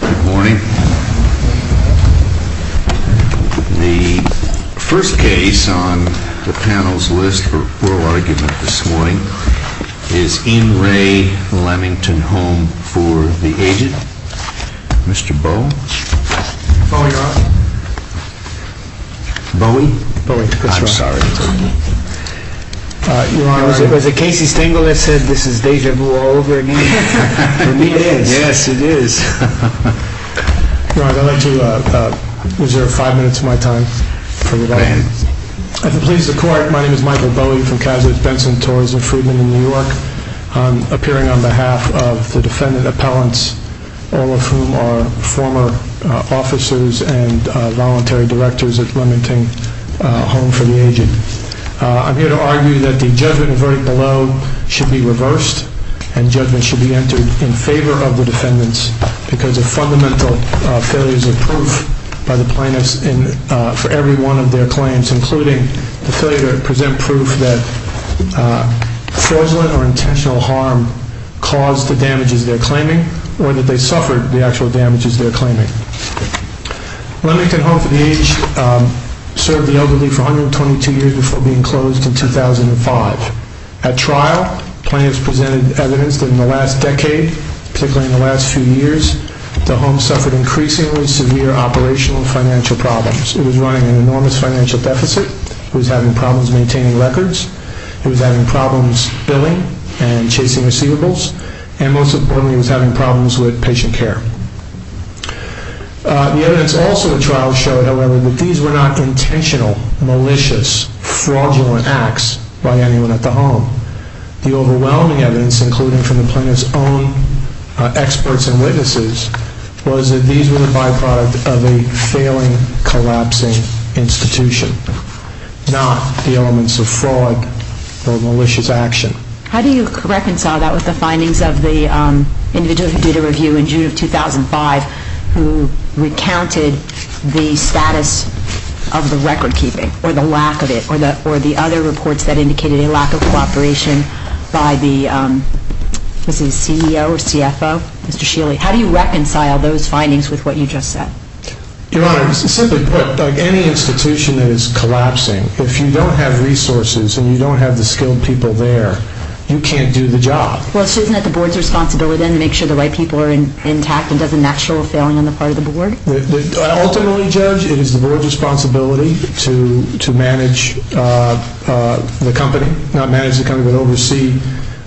Good morning. The first case on the panel's list for oral argument this morning is in Re Lemington Home for the aged. Mr. Bow? Bowie, Your Honor. Bowie? Bowie. I'm sorry. Your Honor, was it Casey Stengel that said this is déjà vu all over again? For me it is. Yes, it is. Your Honor, I'd like to reserve five minutes of my time for rebuttal. If it pleases the court, my name is Michael Bowie from Kasich, Benson, Torres & Friedman in New York. I'm appearing on behalf of the defendant appellants, all of whom are former officers and voluntary directors at Re Lemington Home for the Aged. I'm here to argue that the judgment and verdict below should be reversed and judgment should be entered in favor of the defendants because of fundamental failures of proof by the plaintiffs for every one of their claims, including the failure to present proof that fraudulent or intentional harm caused the damages they're claiming or that they suffered the actual damages they're claiming. Re Lemington Home for the Aged served the elderly for 122 years before being closed in 2005. At trial, plaintiffs presented evidence that in the last decade, particularly in the last few years, the home suffered increasingly severe operational and financial problems. It was running an enormous financial deficit. It was having problems maintaining records. It was having problems billing and chasing receivables. And most importantly, it was having problems with patient care. The evidence also at trial showed, however, that these were not intentional, malicious, fraudulent acts by anyone at the home. The overwhelming evidence, including from the plaintiff's own experts and witnesses, was that these were the byproduct of a failing, collapsing institution, not the elements of fraud or malicious action. How do you reconcile that with the findings of the individual who did a review in June of 2005 who recounted the status of the recordkeeping or the lack of it or the other reports that indicated a lack of cooperation by the CEO or CFO, Mr. Sheely? How do you reconcile those findings with what you just said? Your Honor, to simply put, any institution that is collapsing, if you don't have resources and you don't have the skilled people there, you can't do the job. Well, isn't it the Board's responsibility then to make sure the right people are intact and doesn't match to a failing on the part of the Board? Ultimately, Judge, it is the Board's responsibility to manage the company, not manage the company but oversee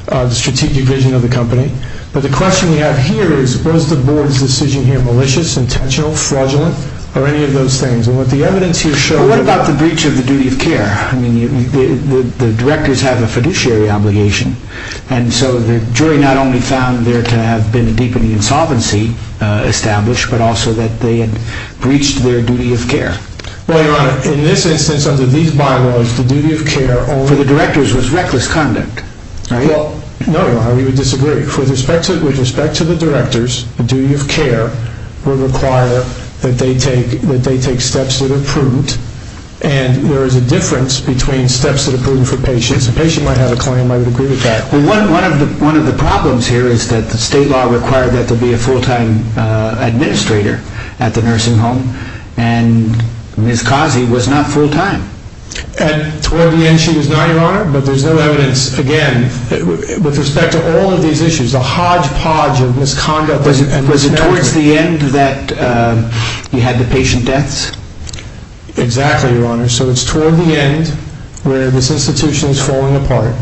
the strategic vision of the company. But the question we have here is, was the Board's decision here malicious, intentional, fraudulent, or any of those things? Well, what about the breach of the duty of care? I mean, the directors have a fiduciary obligation, and so the jury not only found there to have been a deepening insolvency established, but also that they had breached their duty of care. Well, Your Honor, in this instance, under these bylaws, the duty of care... For the directors was reckless conduct, right? Well, no, Your Honor, we would disagree. With respect to the directors, the duty of care would require that they take steps that are prudent, and there is a difference between steps that are prudent for patients. A patient might have a claim, I would agree with that. Well, one of the problems here is that the state law required that there be a full-time administrator at the nursing home, and Ms. Kazi was not full-time. Toward the end, she was not, Your Honor, but there's no evidence, again, with respect to all of these issues, the hodgepodge of misconduct and mismanagement... Was it towards the end that you had the patient deaths? Exactly, Your Honor. So it's toward the end where this institution is falling apart,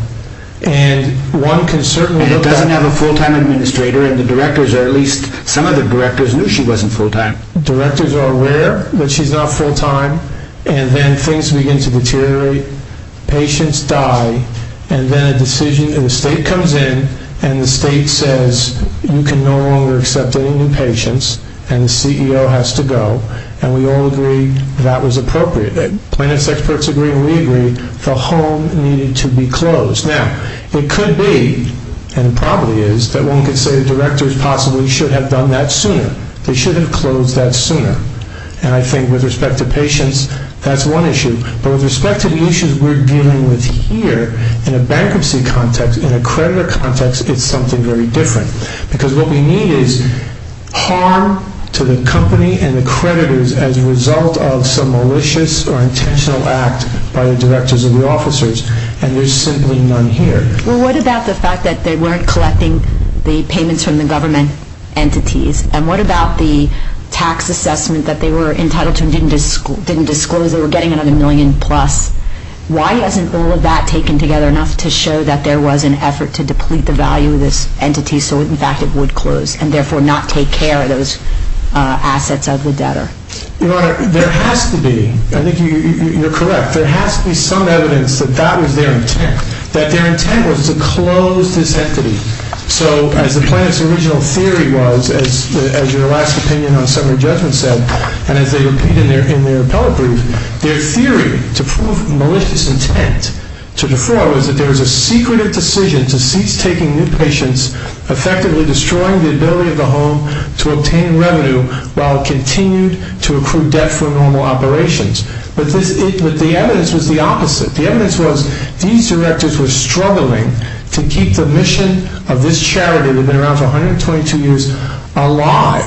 and one can certainly look at... And it doesn't have a full-time administrator, and the directors, or at least some of the directors, knew she wasn't full-time. Directors are aware that she's not full-time, and then things begin to deteriorate. Patients die, and then a decision... The state comes in, and the state says, you can no longer accept any new patients, and the CEO has to go. And we all agree that was appropriate. Plaintiffs' experts agree, and we agree. The home needed to be closed. Now, it could be, and it probably is, that one could say the directors possibly should have done that sooner. They should have closed that sooner. And I think with respect to patients, that's one issue. But with respect to the issues we're dealing with here, in a bankruptcy context, in a creditor context, it's something very different. Because what we need is harm to the company and the creditors as a result of some malicious or intentional act by the directors or the officers, and there's simply none here. Well, what about the fact that they weren't collecting the payments from the government entities? And what about the tax assessment that they were entitled to and didn't disclose they were getting another million plus? Why hasn't all of that taken together enough to show that there was an effort to deplete the value of this entity so, in fact, it would close and therefore not take care of those assets of the debtor? Your Honor, there has to be. I think you're correct. There has to be some evidence that that was their intent, that their intent was to close this entity. So as the plaintiff's original theory was, as your last opinion on summary judgment said, and as they repeat in their appellate brief, their theory to prove malicious intent to defraud was that there was a secretive decision to cease taking new patients, effectively destroying the ability of the home to obtain revenue while it continued to accrue debt for normal operations. But the evidence was the opposite. The evidence was these directors were struggling to keep the mission of this charity that had been around for 122 years alive.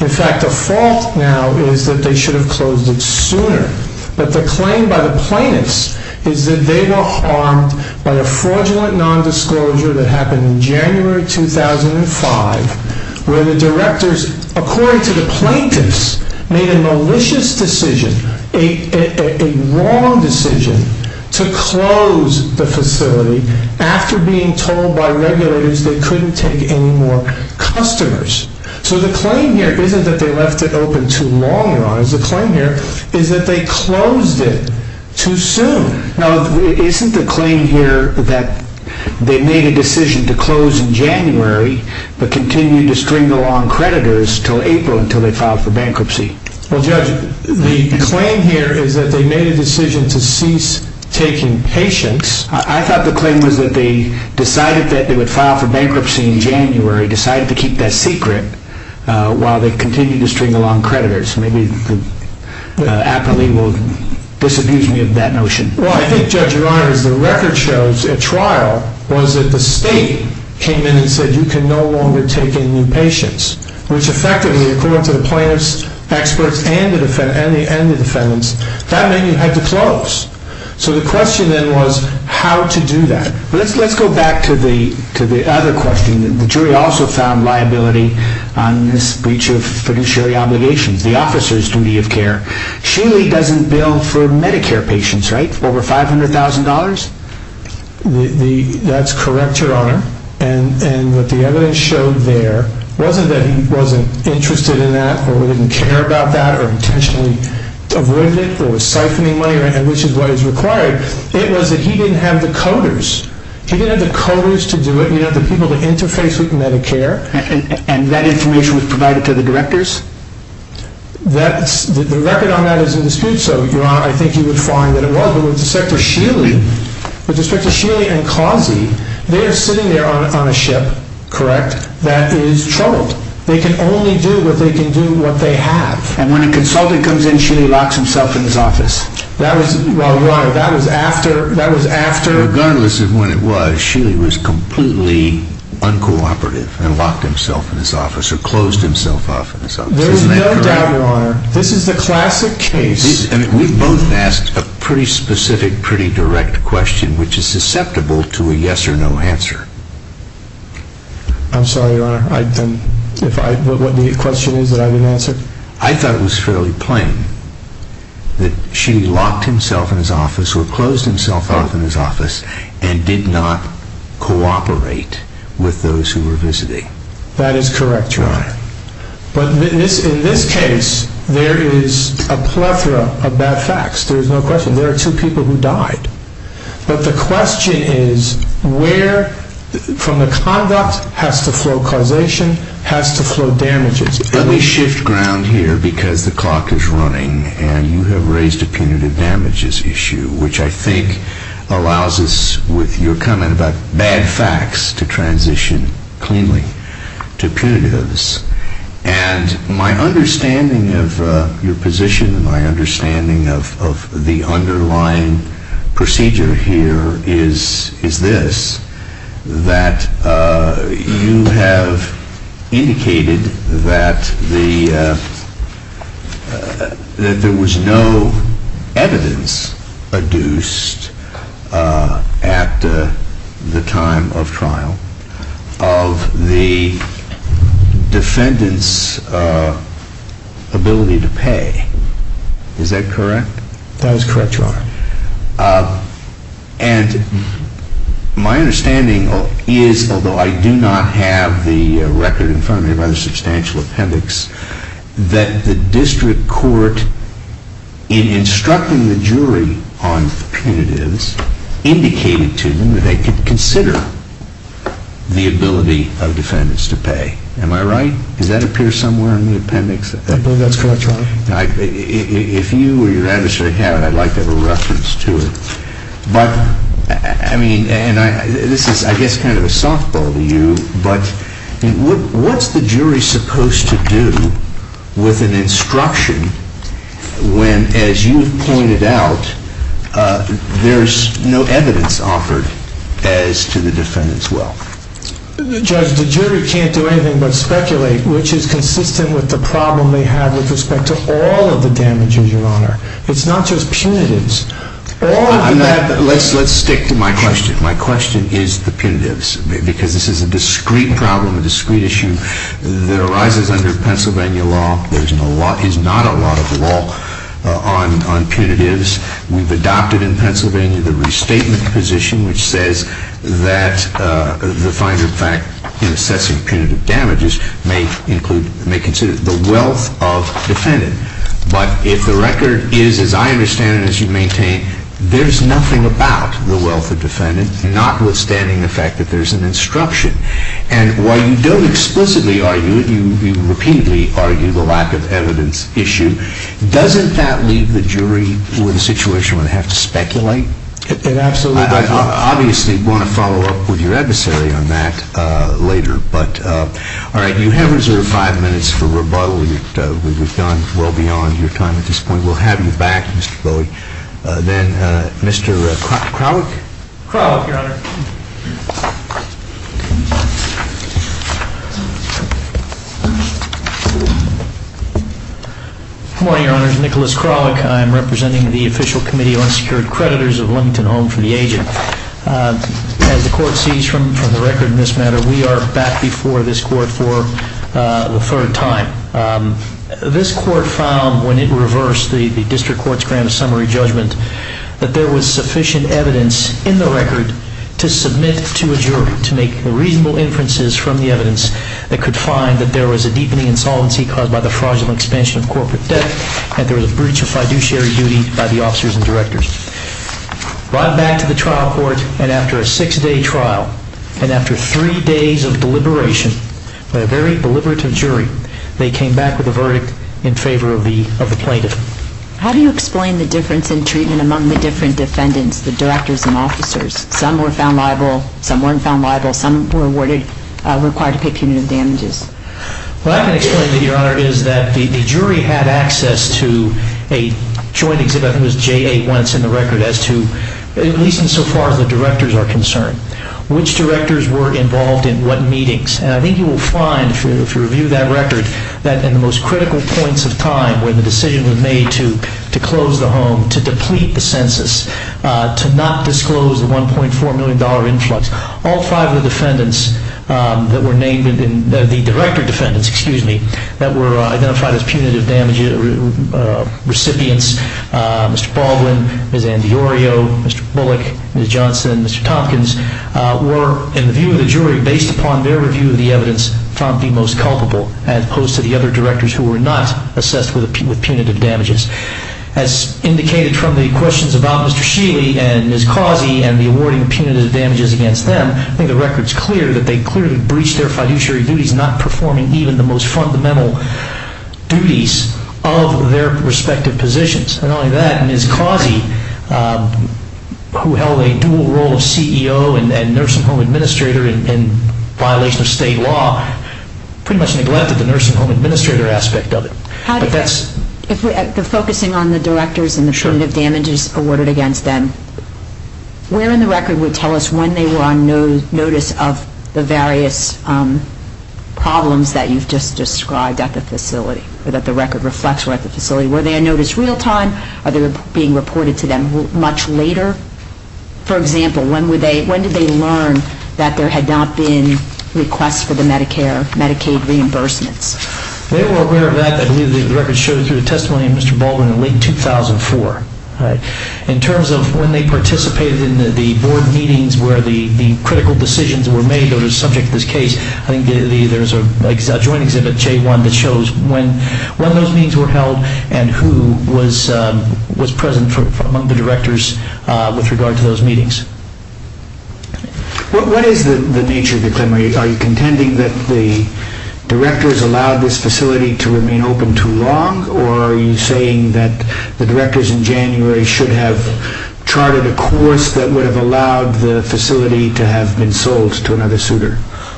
In fact, the fault now is that they should have closed it sooner. But the claim by the plaintiffs is that they were harmed by a fraudulent nondisclosure that happened in January 2005 where the directors, according to the plaintiffs, made a malicious decision, a wrong decision, to close the facility after being told by regulators they couldn't take any more customers. So the claim here isn't that they left it open too long, Your Honors. The claim here is that they closed it too soon. Now, isn't the claim here that they made a decision to close in January but continued to string along creditors until April, until they filed for bankruptcy? Well, Judge, the claim here is that they made a decision to cease taking patients. I thought the claim was that they decided that they would file for bankruptcy in January, decided to keep that secret while they continued to string along creditors. Maybe the appellee will disabuse me of that notion. Well, I think, Judge, Your Honors, the record shows at trial was that the state came in and said you can no longer take in new patients, which effectively, according to the plaintiffs, experts, and the defendants, that meant you had to close. So the question then was how to do that. Let's go back to the other question. The jury also found liability on this breach of fiduciary obligations, the officer's duty of care. Shealy doesn't bill for Medicare patients, right, over $500,000? That's correct, Your Honor. And what the evidence showed there wasn't that he wasn't interested in that or didn't care about that or intentionally avoided it or was siphoning money, which is what is required. It was that he didn't have the coders. He didn't have the coders to do it. He didn't have the people to interface with Medicare. And that information was provided to the directors? The record on that is in dispute. So, Your Honor, I think you would find that it was. But with respect to Shealy and Causey, they are sitting there on a ship, correct, that is troubled. They can only do what they can do what they have. And when a consultant comes in, Shealy locks himself in his office? Well, Your Honor, that was after? Regardless of when it was, Shealy was completely uncooperative and locked himself in his office or closed himself off in his office. Isn't that correct? There's no doubt, Your Honor. This is the classic case. We've both asked a pretty specific, pretty direct question, which is susceptible to a yes or no answer. I'm sorry, Your Honor. What the question is that I didn't answer? I thought it was fairly plain that Shealy locked himself in his office or closed himself off in his office and did not cooperate with those who were visiting. That is correct, Your Honor. But in this case, there is a plethora of bad facts. There is no question. There are two people who died. But the question is where from the conduct has to flow causation, has to flow damages? Let me shift ground here because the clock is running and you have raised a punitive damages issue, which I think allows us, with your comment about bad facts, to transition cleanly to punitives. And my understanding of your position and my understanding of the underlying procedure here is this, that you have indicated that there was no evidence adduced at the time of trial of the defendant's ability to pay. Is that correct? That is correct, Your Honor. And my understanding is, although I do not have the record in front of me of either substantial appendix, that the district court, in instructing the jury on the punitives, indicated to them that they could consider the ability of defendants to pay. Am I right? Does that appear somewhere in the appendix? I believe that is correct, Your Honor. If you or your adversary have it, I would like to have a reference to it. But, I mean, this is, I guess, kind of a softball to you, but what is the jury supposed to do with an instruction when, as you have pointed out, there is no evidence offered as to the defendant's will? Judge, the jury can't do anything but speculate, which is consistent with the problem they have with respect to all of the damages, Your Honor. It's not just punitives. Let's stick to my question. My question is the punitives, because this is a discrete problem, a discrete issue, that arises under Pennsylvania law. There is not a lot of law on punitives. We've adopted in Pennsylvania the restatement position, which says that the fine group fact in assessing punitive damages may consider the wealth of defendant. But if the record is, as I understand it, as you maintain, there is nothing about the wealth of defendant, notwithstanding the fact that there is an instruction. And while you don't explicitly argue it, you repeatedly argue the lack of evidence issue, doesn't that leave the jury with a situation where they have to speculate? It absolutely does. I obviously want to follow up with your adversary on that later. But, all right, you have reserved five minutes for rebuttal. We've gone well beyond your time at this point. We'll have you back, Mr. Bowie. Then, Mr. Kralik? Kralik, Your Honor. Good morning, Your Honors. Nicholas Kralik. I am representing the Official Committee of Unsecured Creditors of Lonington Home for the Aging. As the Court sees from the record in this matter, we are back before this Court for the third time. This Court found when it reversed the District Court's grand summary judgment that there was sufficient evidence in the record to submit to a jury to make reasonable inferences from the evidence that could find that there was a deepening insolvency caused by the fraudulent expansion of corporate debt, and there was a breach of fiduciary duty by the officers and directors. Brought back to the trial court, and after a six-day trial, and after three days of deliberation by a very deliberative jury, they came back with a verdict in favor of the plaintiff. How do you explain the difference in treatment among the different defendants, the directors and officers? Some were found liable, some weren't found liable, some were awarded, required to pay punitive damages. What I can explain to you, Your Honor, is that the jury had access to a joint exhibit. I think it was J.A. Wentz in the record as to, at least insofar as the directors are concerned, which directors were involved in what meetings. And I think you will find, if you review that record, that in the most critical points of time when the decision was made to close the home, to deplete the census, to not disclose the $1.4 million influx, all five of the defendants that were named, the director defendants, excuse me, that were identified as punitive damage recipients, Mr. Baldwin, Ms. Andiorio, Mr. Bullock, Ms. Johnson, Mr. Tompkins, were, in the view of the jury, based upon their review of the evidence, found the most culpable, as opposed to the other directors who were not assessed with punitive damages. As indicated from the questions about Mr. Sheely and Ms. Causey and the awarding of punitive damages against them, I think the record is clear that they clearly breached their fiduciary duties, not performing even the most fundamental duties of their respective positions. Not only that, Ms. Causey, who held a dual role of CEO and nurse-at-home administrator in violation of state law, pretty much neglected the nurse-at-home administrator aspect of it. If we're focusing on the directors and the punitive damages awarded against them, where in the record would tell us when they were on notice of the various problems that you've just described at the facility, or that the record reflects were at the facility? Were they on notice real time? Are they being reported to them much later? For example, when did they learn that there had not been requests for the Medicaid reimbursements? They were aware of that. I believe the record shows through the testimony of Mr. Baldwin in late 2004. In terms of when they participated in the board meetings where the critical decisions were made on the subject of this case, I think there's a joint exhibit, J1, that shows when those meetings were held and who was present among the directors with regard to those meetings. What is the nature of the claim? Are you contending that the directors allowed this facility to remain open too long, or are you saying that the directors in January should have charted a course that would have allowed the facility to have been sold to another suitor?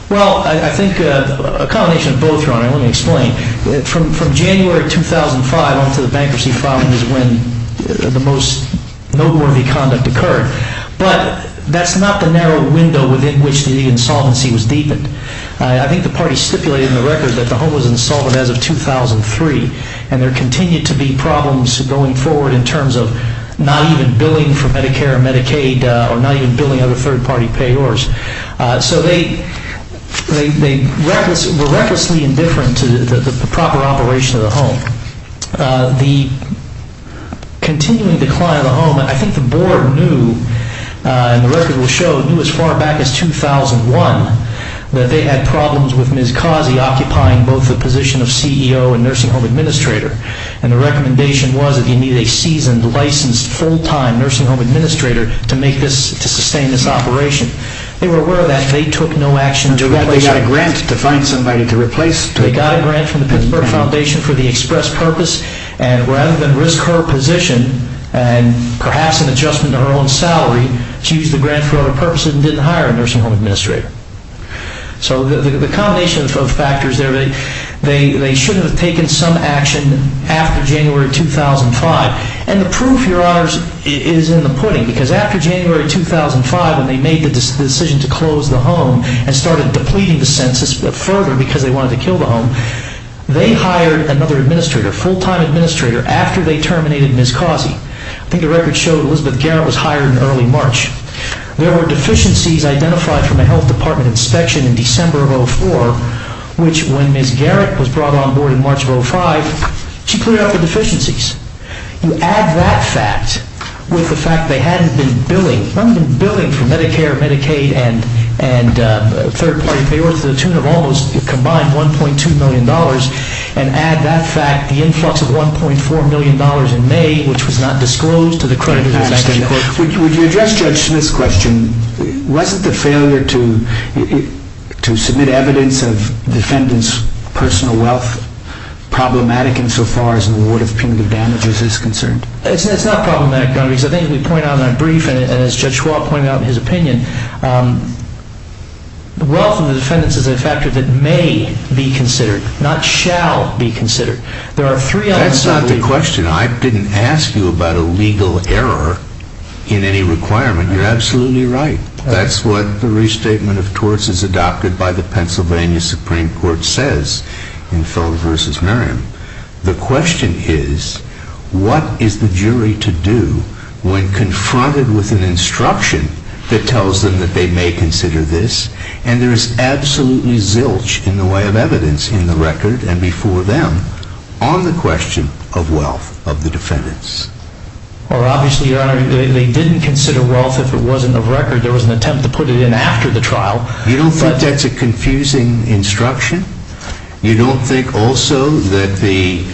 Well, I think a combination of both, Your Honor. Let me explain. From January 2005 on to the bankruptcy filing is when the most noteworthy conduct occurred. But that's not the narrow window within which the insolvency was deepened. I think the party stipulated in the record that the home was insolvent as of 2003, and there continued to be problems going forward in terms of not even billing for Medicare and Medicaid or not even billing other third-party payors. So they were recklessly indifferent to the proper operation of the home. The continuing decline of the home, I think the Board knew, and the record will show, knew as far back as 2001 that they had problems with Ms. Causey occupying both the position of CEO and nursing home administrator, and the recommendation was that you need a seasoned, licensed, full-time nursing home administrator to sustain this operation. They were aware of that. They took no action to replace her. They got a grant to find somebody to replace her. They got a grant from the Pittsburgh Foundation for the express purpose, and rather than risk her position and perhaps an adjustment to her own salary, she used the grant for other purposes and didn't hire a nursing home administrator. So the combination of factors there, they shouldn't have taken some action after January 2005. And the proof, Your Honors, is in the pudding, because after January 2005 when they made the decision to close the home and started depleting the census further because they wanted to kill the home, they hired another administrator, a full-time administrator, after they terminated Ms. Causey. I think the record showed Elizabeth Garrett was hired in early March. There were deficiencies identified from a health department inspection in December of 2004, which when Ms. Garrett was brought on board in March of 2005, she cleared out the deficiencies. You add that fact with the fact they hadn't been billing, not even billing for Medicare, Medicaid, and third-party payorts to the tune of almost combined $1.2 million, and add that fact, the influx of $1.4 million in May, which was not disclosed to the creditors. Would you address, Judge, this question? Wasn't the failure to submit evidence of defendants' personal wealth problematic insofar as an award of punitive damages is concerned? It's not problematic, Your Honor, because I think we point out in our brief, and as Judge Schwab pointed out in his opinion, the wealth of the defendants is a factor that may be considered, not shall be considered. That's not the question. I didn't ask you about a legal error in any requirement. You're absolutely right. That's what the restatement of torts as adopted by the Pennsylvania Supreme Court says in Feller v. Merriam. The question is, what is the jury to do when confronted with an instruction that tells them that they may consider this, and there is absolutely zilch in the way of evidence in the record and before them on the question of wealth of the defendants? Well, obviously, Your Honor, they didn't consider wealth if it wasn't of record. There was an attempt to put it in after the trial. You don't think that's a confusing instruction? You don't think also that the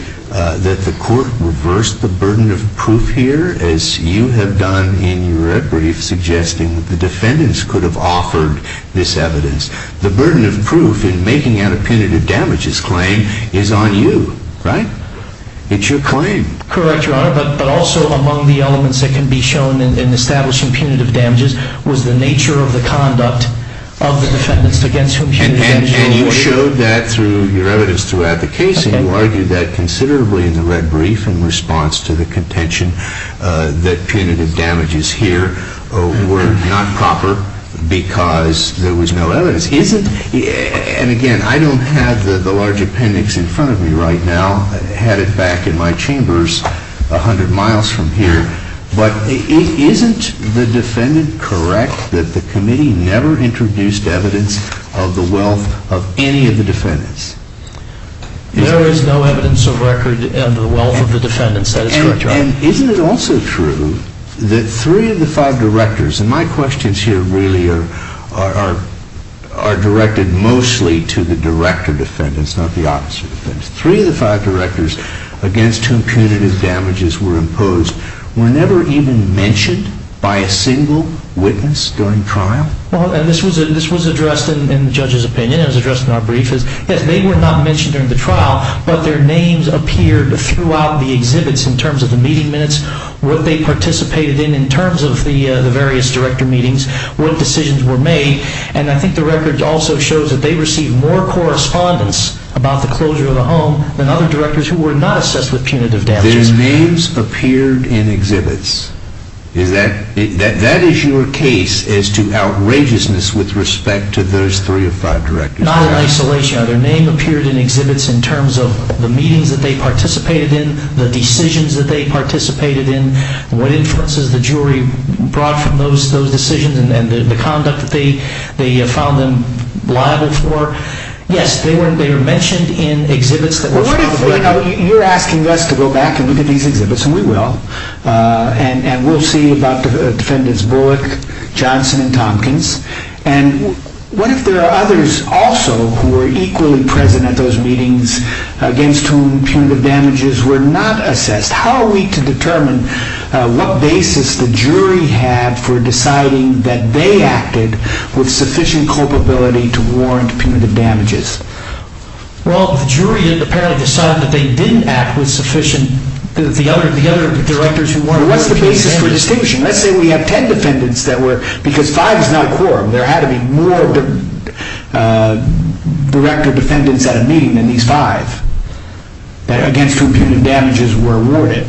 court reversed the burden of proof here, as you have done in your brief, suggesting that the defendants could have offered this evidence? The burden of proof in making out a punitive damages claim is on you, right? It's your claim. Correct, Your Honor, but also among the elements that can be shown in establishing punitive damages was the nature of the conduct of the defendants against whom punitive damages were awarded. And you showed that through your evidence throughout the case, and you argued that considerably in the red brief in response to the contention that punitive damages here were not proper because there was no evidence. And again, I don't have the large appendix in front of me right now. I had it back in my chambers 100 miles from here. But isn't the defendant correct that the committee never introduced evidence of the wealth of any of the defendants? There is no evidence of record of the wealth of the defendants. That is correct, Your Honor. And isn't it also true that three of the five directors, and my questions here really are directed mostly to the director defendants, not the officer defendants. Three of the five directors against whom punitive damages were imposed were never even mentioned by a single witness during trial? Well, and this was addressed in the judge's opinion. It was addressed in our brief. Yes, they were not mentioned during the trial, but their names appeared throughout the exhibits in terms of the meeting minutes, what they participated in in terms of the various director meetings, what decisions were made. And I think the record also shows that they received more correspondence about the closure of the home than other directors who were not assessed with punitive damages. Their names appeared in exhibits. That is your case as to outrageousness with respect to those three or five directors? Not in isolation. Their names appeared in exhibits in terms of the meetings that they participated in, the decisions that they participated in, what influences the jury brought from those decisions and the conduct that they found them liable for. Yes, they were mentioned in exhibits. You're asking us to go back and look at these exhibits, and we will. And we'll see about Defendants Bullock, Johnson, and Tompkins. And what if there are others also who were equally present at those meetings against whom punitive damages were not assessed? How are we to determine what basis the jury had for deciding that they acted with sufficient culpability to warrant punitive damages? Well, the jury apparently decided that they didn't act with sufficient What's the basis for distinction? Let's say we have ten defendants, because five is not a quorum. There had to be more director defendants at a meeting than these five against whom punitive damages were awarded.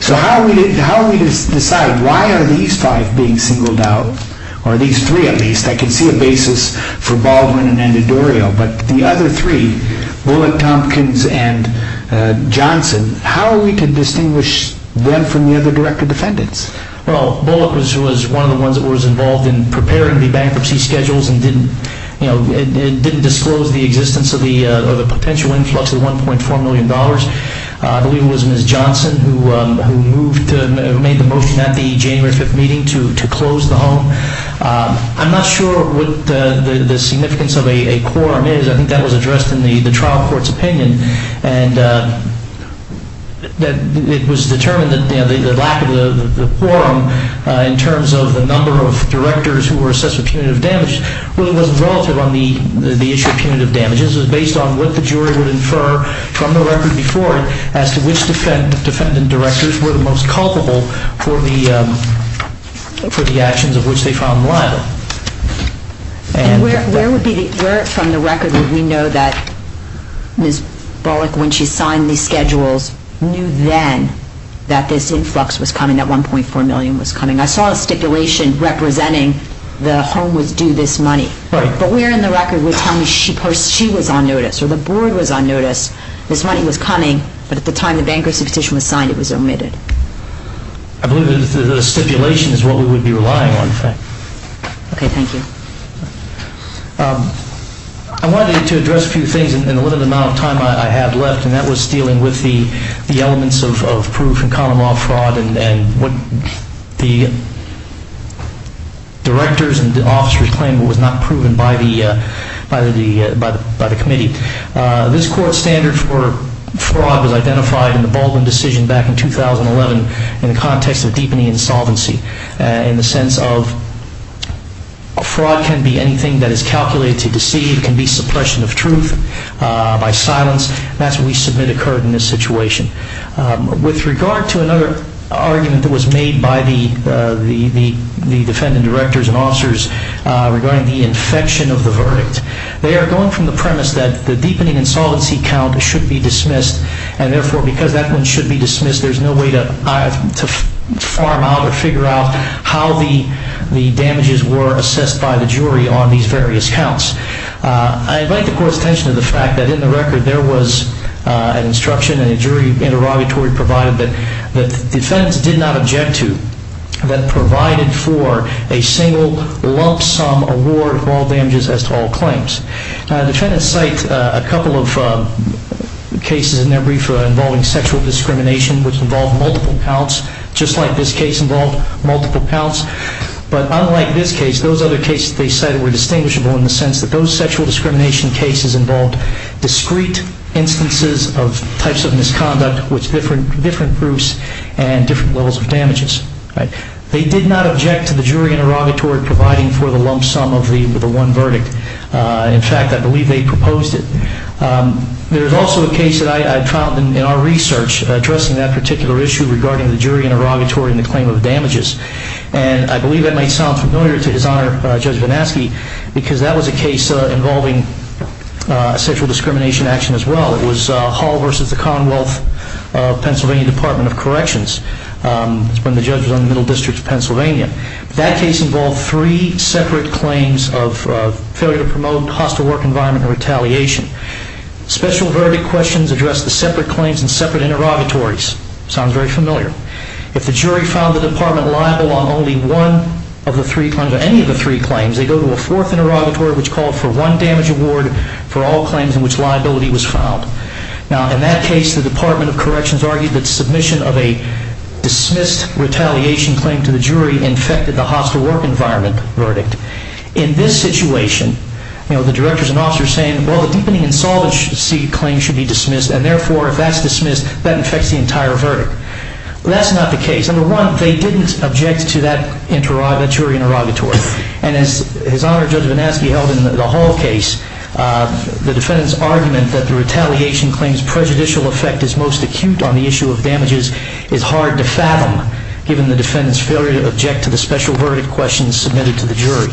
So how are we to decide? Why are these five being singled out, or these three at least, that can see a basis for Baldwin and D'Orio, but the other three, Bullock, Tompkins, and Johnson, how are we to distinguish them from the other director defendants? Well, Bullock was one of the ones that was involved in preparing the bankruptcy schedules and didn't disclose the existence of the potential influx of $1.4 million. I believe it was Ms. Johnson who made the motion at the January 5th meeting to close the home. I'm not sure what the significance of a quorum is. I think that was addressed in the trial court's opinion, and it was determined that the lack of the quorum in terms of the number of directors who were assessed with punitive damage was relative on the issue of punitive damages. It was based on what the jury would infer from the record before it as to which defendant directors were the most culpable for the actions of which they found malign. And where from the record would we know that Ms. Bullock, when she signed these schedules, knew then that this influx was coming, that $1.4 million was coming? I saw a stipulation representing the home was due this money, but where in the record would you tell me she was on notice, or the board was on notice, this money was coming, but at the time the bankruptcy petition was signed it was omitted? I believe the stipulation is what we would be relying on. Okay, thank you. I wanted to address a few things in the limited amount of time I have left, and that was dealing with the elements of proof and common law fraud and what the directors and the officers claimed was not proven by the committee. This court's standard for fraud was identified in the Baldwin decision back in 2011 in the context of deepening insolvency, in the sense of fraud can be anything that is calculated to deceive, it can be suppression of truth by silence, and that's what we submit occurred in this situation. With regard to another argument that was made by the defendant directors and officers regarding the infection of the verdict, they are going from the premise that the deepening insolvency count should be dismissed, and therefore because that one should be dismissed there's no way to farm out or figure out how the damages were assessed by the jury on these various counts. I invite the court's attention to the fact that in the record there was an instruction and a jury interrogatory provided that the defendants did not object to, that provided for a single lump sum award for all damages as to all claims. Defendants cite a couple of cases in their brief involving sexual discrimination which involved multiple counts, just like this case involved multiple counts, but unlike this case those other cases they cited were distinguishable in the sense that those sexual discrimination cases involved discrete instances of types of misconduct with different proofs and different levels of damages. They did not object to the jury interrogatory providing for the lump sum of the one verdict. In fact, I believe they proposed it. There is also a case that I found in our research addressing that particular issue regarding the jury interrogatory and the claim of damages, and I believe that might sound familiar to His Honor Judge Vanaski because that was a case involving sexual discrimination action as well. It was Hall versus the Commonwealth of Pennsylvania Department of Corrections. It was when the judge was on the Middle District of Pennsylvania. That case involved three separate claims of failure to promote hostile work environment and retaliation. Special verdict questions addressed the separate claims and separate interrogatories. It sounds very familiar. If the jury found the department liable on only one of the three claims, or any of the three claims, they go to a fourth interrogatory which called for one damage award for all claims in which liability was found. Now, in that case, the Department of Corrections argued that submission of a dismissed retaliation claim to the jury infected the hostile work environment verdict. In this situation, the directors and officers are saying, well, the deepening insolvency claim should be dismissed, and therefore, if that's dismissed, that infects the entire verdict. That's not the case. Number one, they didn't object to that jury interrogatory, and as Honor Judge Vannaschi held in the Hall case, the defendant's argument that the retaliation claim's prejudicial effect is most acute on the issue of damages is hard to fathom, given the defendant's failure to object to the special verdict questions submitted to the jury.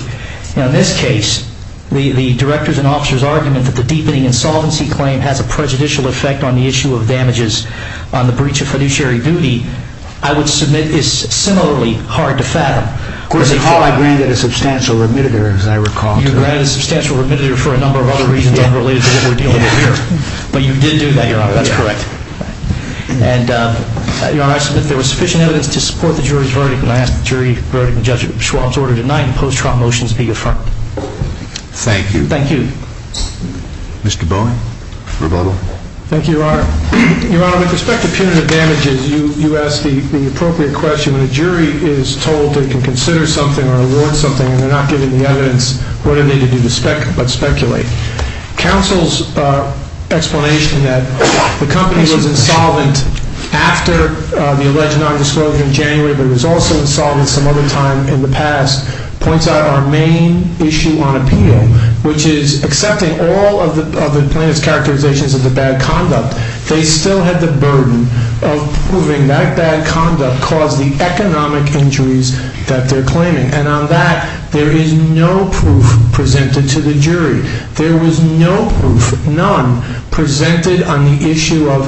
Now, in this case, the directors and officers' argument that the deepening insolvency claim has a prejudicial effect on the issue of damages on the breach of fiduciary duty, I would submit is similarly hard to fathom. Of course, in the Hall, I granted a substantial remitter, as I recall. You granted a substantial remitter for a number of other reasons unrelated to what we're dealing with here. But you did do that, Your Honor. That's correct. And, Your Honor, I submit there was sufficient evidence to support the jury's verdict, and I ask that the jury verdict and Judge Schwab's order tonight in post-trial motions be affirmed. Thank you. Thank you. Mr. Bowen, rebuttal. Thank you, Your Honor. Your Honor, with respect to punitive damages, you asked the appropriate question. When a jury is told they can consider something or award something and they're not given the evidence, what are they to do but speculate? Counsel's explanation that the company was insolvent after the alleged nondisclosure in January but was also insolvent some other time in the past points out our main issue on appeal, which is accepting all of the plaintiff's characterizations of the bad conduct, they still have the burden of proving that bad conduct caused the economic injuries that they're claiming. And on that, there is no proof presented to the jury. There was no proof, none, presented on the issue of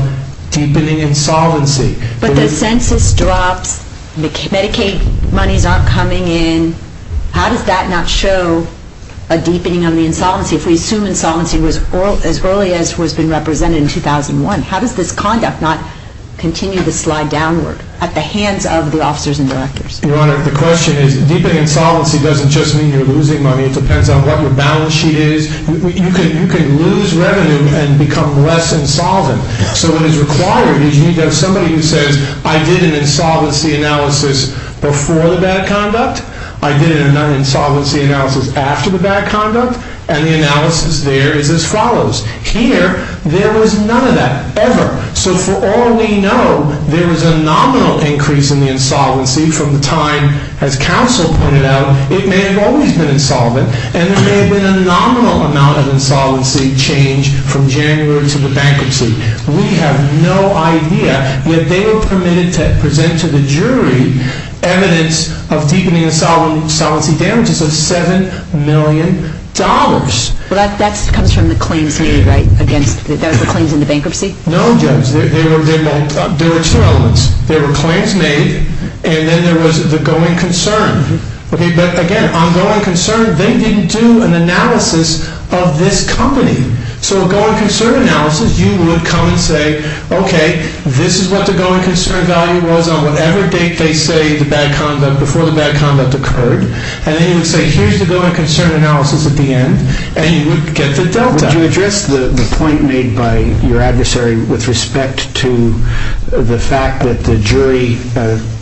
deepening insolvency. But the census drops, Medicaid monies aren't coming in. How does that not show a deepening on the insolvency? If we assume insolvency was as early as was been represented in 2001, how does this conduct not continue to slide downward at the hands of the officers and directors? Your Honor, the question is deepening insolvency doesn't just mean you're losing money. It depends on what your balance sheet is. You can lose revenue and become less insolvent. So what is required is you need to have somebody who says, I did an insolvency analysis before the bad conduct. I did an insolvency analysis after the bad conduct. And the analysis there is as follows. Here, there was none of that ever. So for all we know, there was a nominal increase in the insolvency from the time, as counsel pointed out, it may have always been insolvent. And there may have been a nominal amount of insolvency change from January to the bankruptcy. We have no idea that they were permitted to present to the jury evidence of deepening insolvency damages of $7 million. Well, that comes from the claims made, right? That was the claims in the bankruptcy? No, Judge. There were two elements. There were claims made, and then there was the going concern. But again, on going concern, they didn't do an analysis of this company. So a going concern analysis, you would come and say, okay, this is what the going concern value was on whatever date they say the bad conduct, before the bad conduct occurred. And then you would say, here's the going concern analysis at the end, and you would get the delta. Would you address the point made by your adversary with respect to the fact that the jury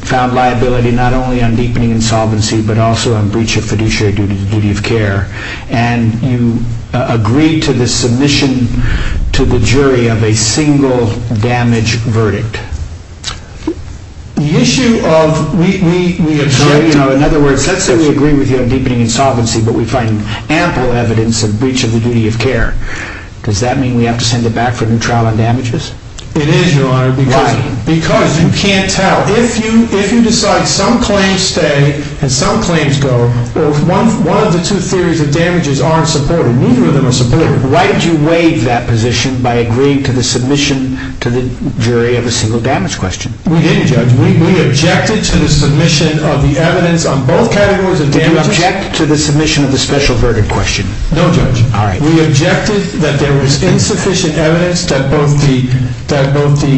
found liability not only on deepening insolvency but also on breach of fiduciary duty of care, and you agreed to the submission to the jury of a single damage verdict? In other words, let's say we agree with you on deepening insolvency, but we find ample evidence of breach of the duty of care. Does that mean we have to send it back for a new trial on damages? It is, Your Honor. Why? Because you can't tell. If you decide some claims stay and some claims go, or if one of the two theories of damages aren't supported, neither of them are supported. Why did you waive that position by agreeing to the submission to the jury of a single damage verdict? We didn't, Judge. We objected to the submission of the evidence on both categories of damages. Did you object to the submission of the special verdict question? No, Judge. All right. We objected that there was insufficient evidence that both the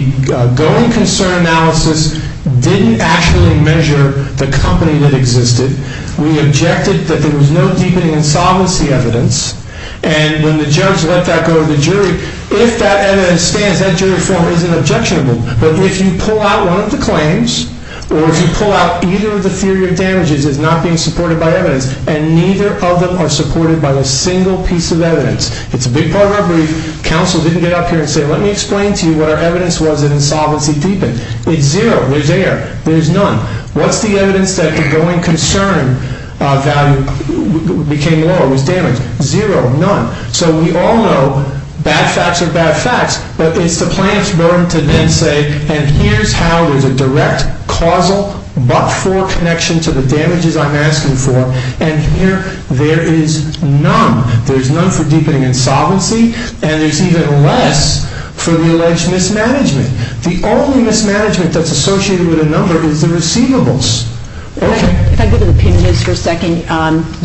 going concern analysis didn't actually measure the company that existed. We objected that there was no deepening insolvency evidence. And when the judge let that go to the jury, if that evidence stands, that jury form isn't objectionable. But if you pull out one of the claims, or if you pull out either of the theory of damages that's not being supported by evidence, and neither of them are supported by a single piece of evidence, it's a big part of our brief. Counsel didn't get up here and say, let me explain to you what our evidence was that insolvency deepened. It's zero. There's error. There's none. What's the evidence that the going concern value became lower, was damaged? Zero. None. So we all know bad facts are bad facts, but it's the plaintiff's burden to then say, and here's how there's a direct causal but-for connection to the damages I'm asking for, and here there is none. There's none for deepening insolvency, and there's even less for the alleged mismanagement. The only mismanagement that's associated with a number is the receivables. If I could go to the punitives for a second.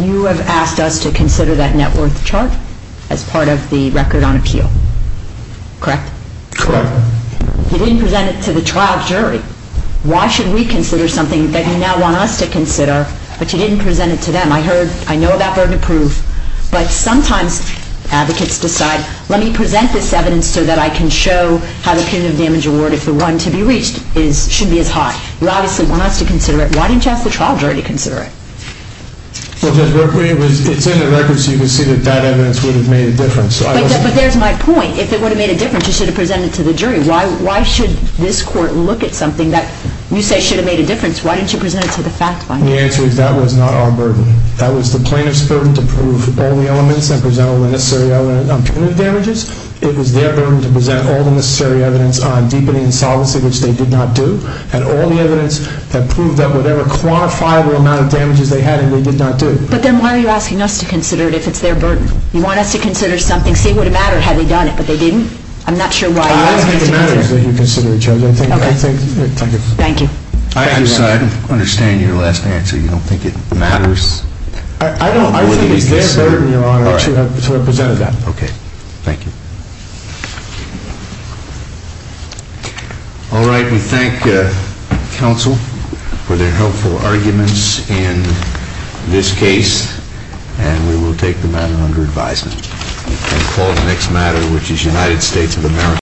You have asked us to consider that net worth chart as part of the record on appeal, correct? Correct. You didn't present it to the trial jury. Why should we consider something that you now want us to consider, but you didn't present it to them? I know that burden of proof, but sometimes advocates decide, let me present this evidence so that I can show how the punitive damage award, if the run to be reached, should be as high. You obviously want us to consider it. Why didn't you ask the trial jury to consider it? It's in the record so you can see that that evidence would have made a difference. But there's my point. If it would have made a difference, you should have presented it to the jury. Why should this court look at something that you say should have made a difference? Why didn't you present it to the fact finder? The answer is that was not our burden. That was the plaintiff's burden to prove all the elements and present all the necessary evidence on punitive damages. It was their burden to present all the necessary evidence on deepening insolvency, which they did not do, and all the evidence that proved that whatever quantifiable amount of damages they had and they did not do. But then why are you asking us to consider it if it's their burden? You want us to consider something, say it would have mattered had they done it, but they didn't? I'm not sure why you're asking us to consider it. I think it matters that you consider it, Judge. Thank you. I understand your last answer. You don't think it matters? I think it's their burden, Your Honor, to have presented that. Okay. Thank you. All right. We thank counsel for their helpful arguments in this case, and we will take the matter under advisement. We call the next matter, which is United States of America.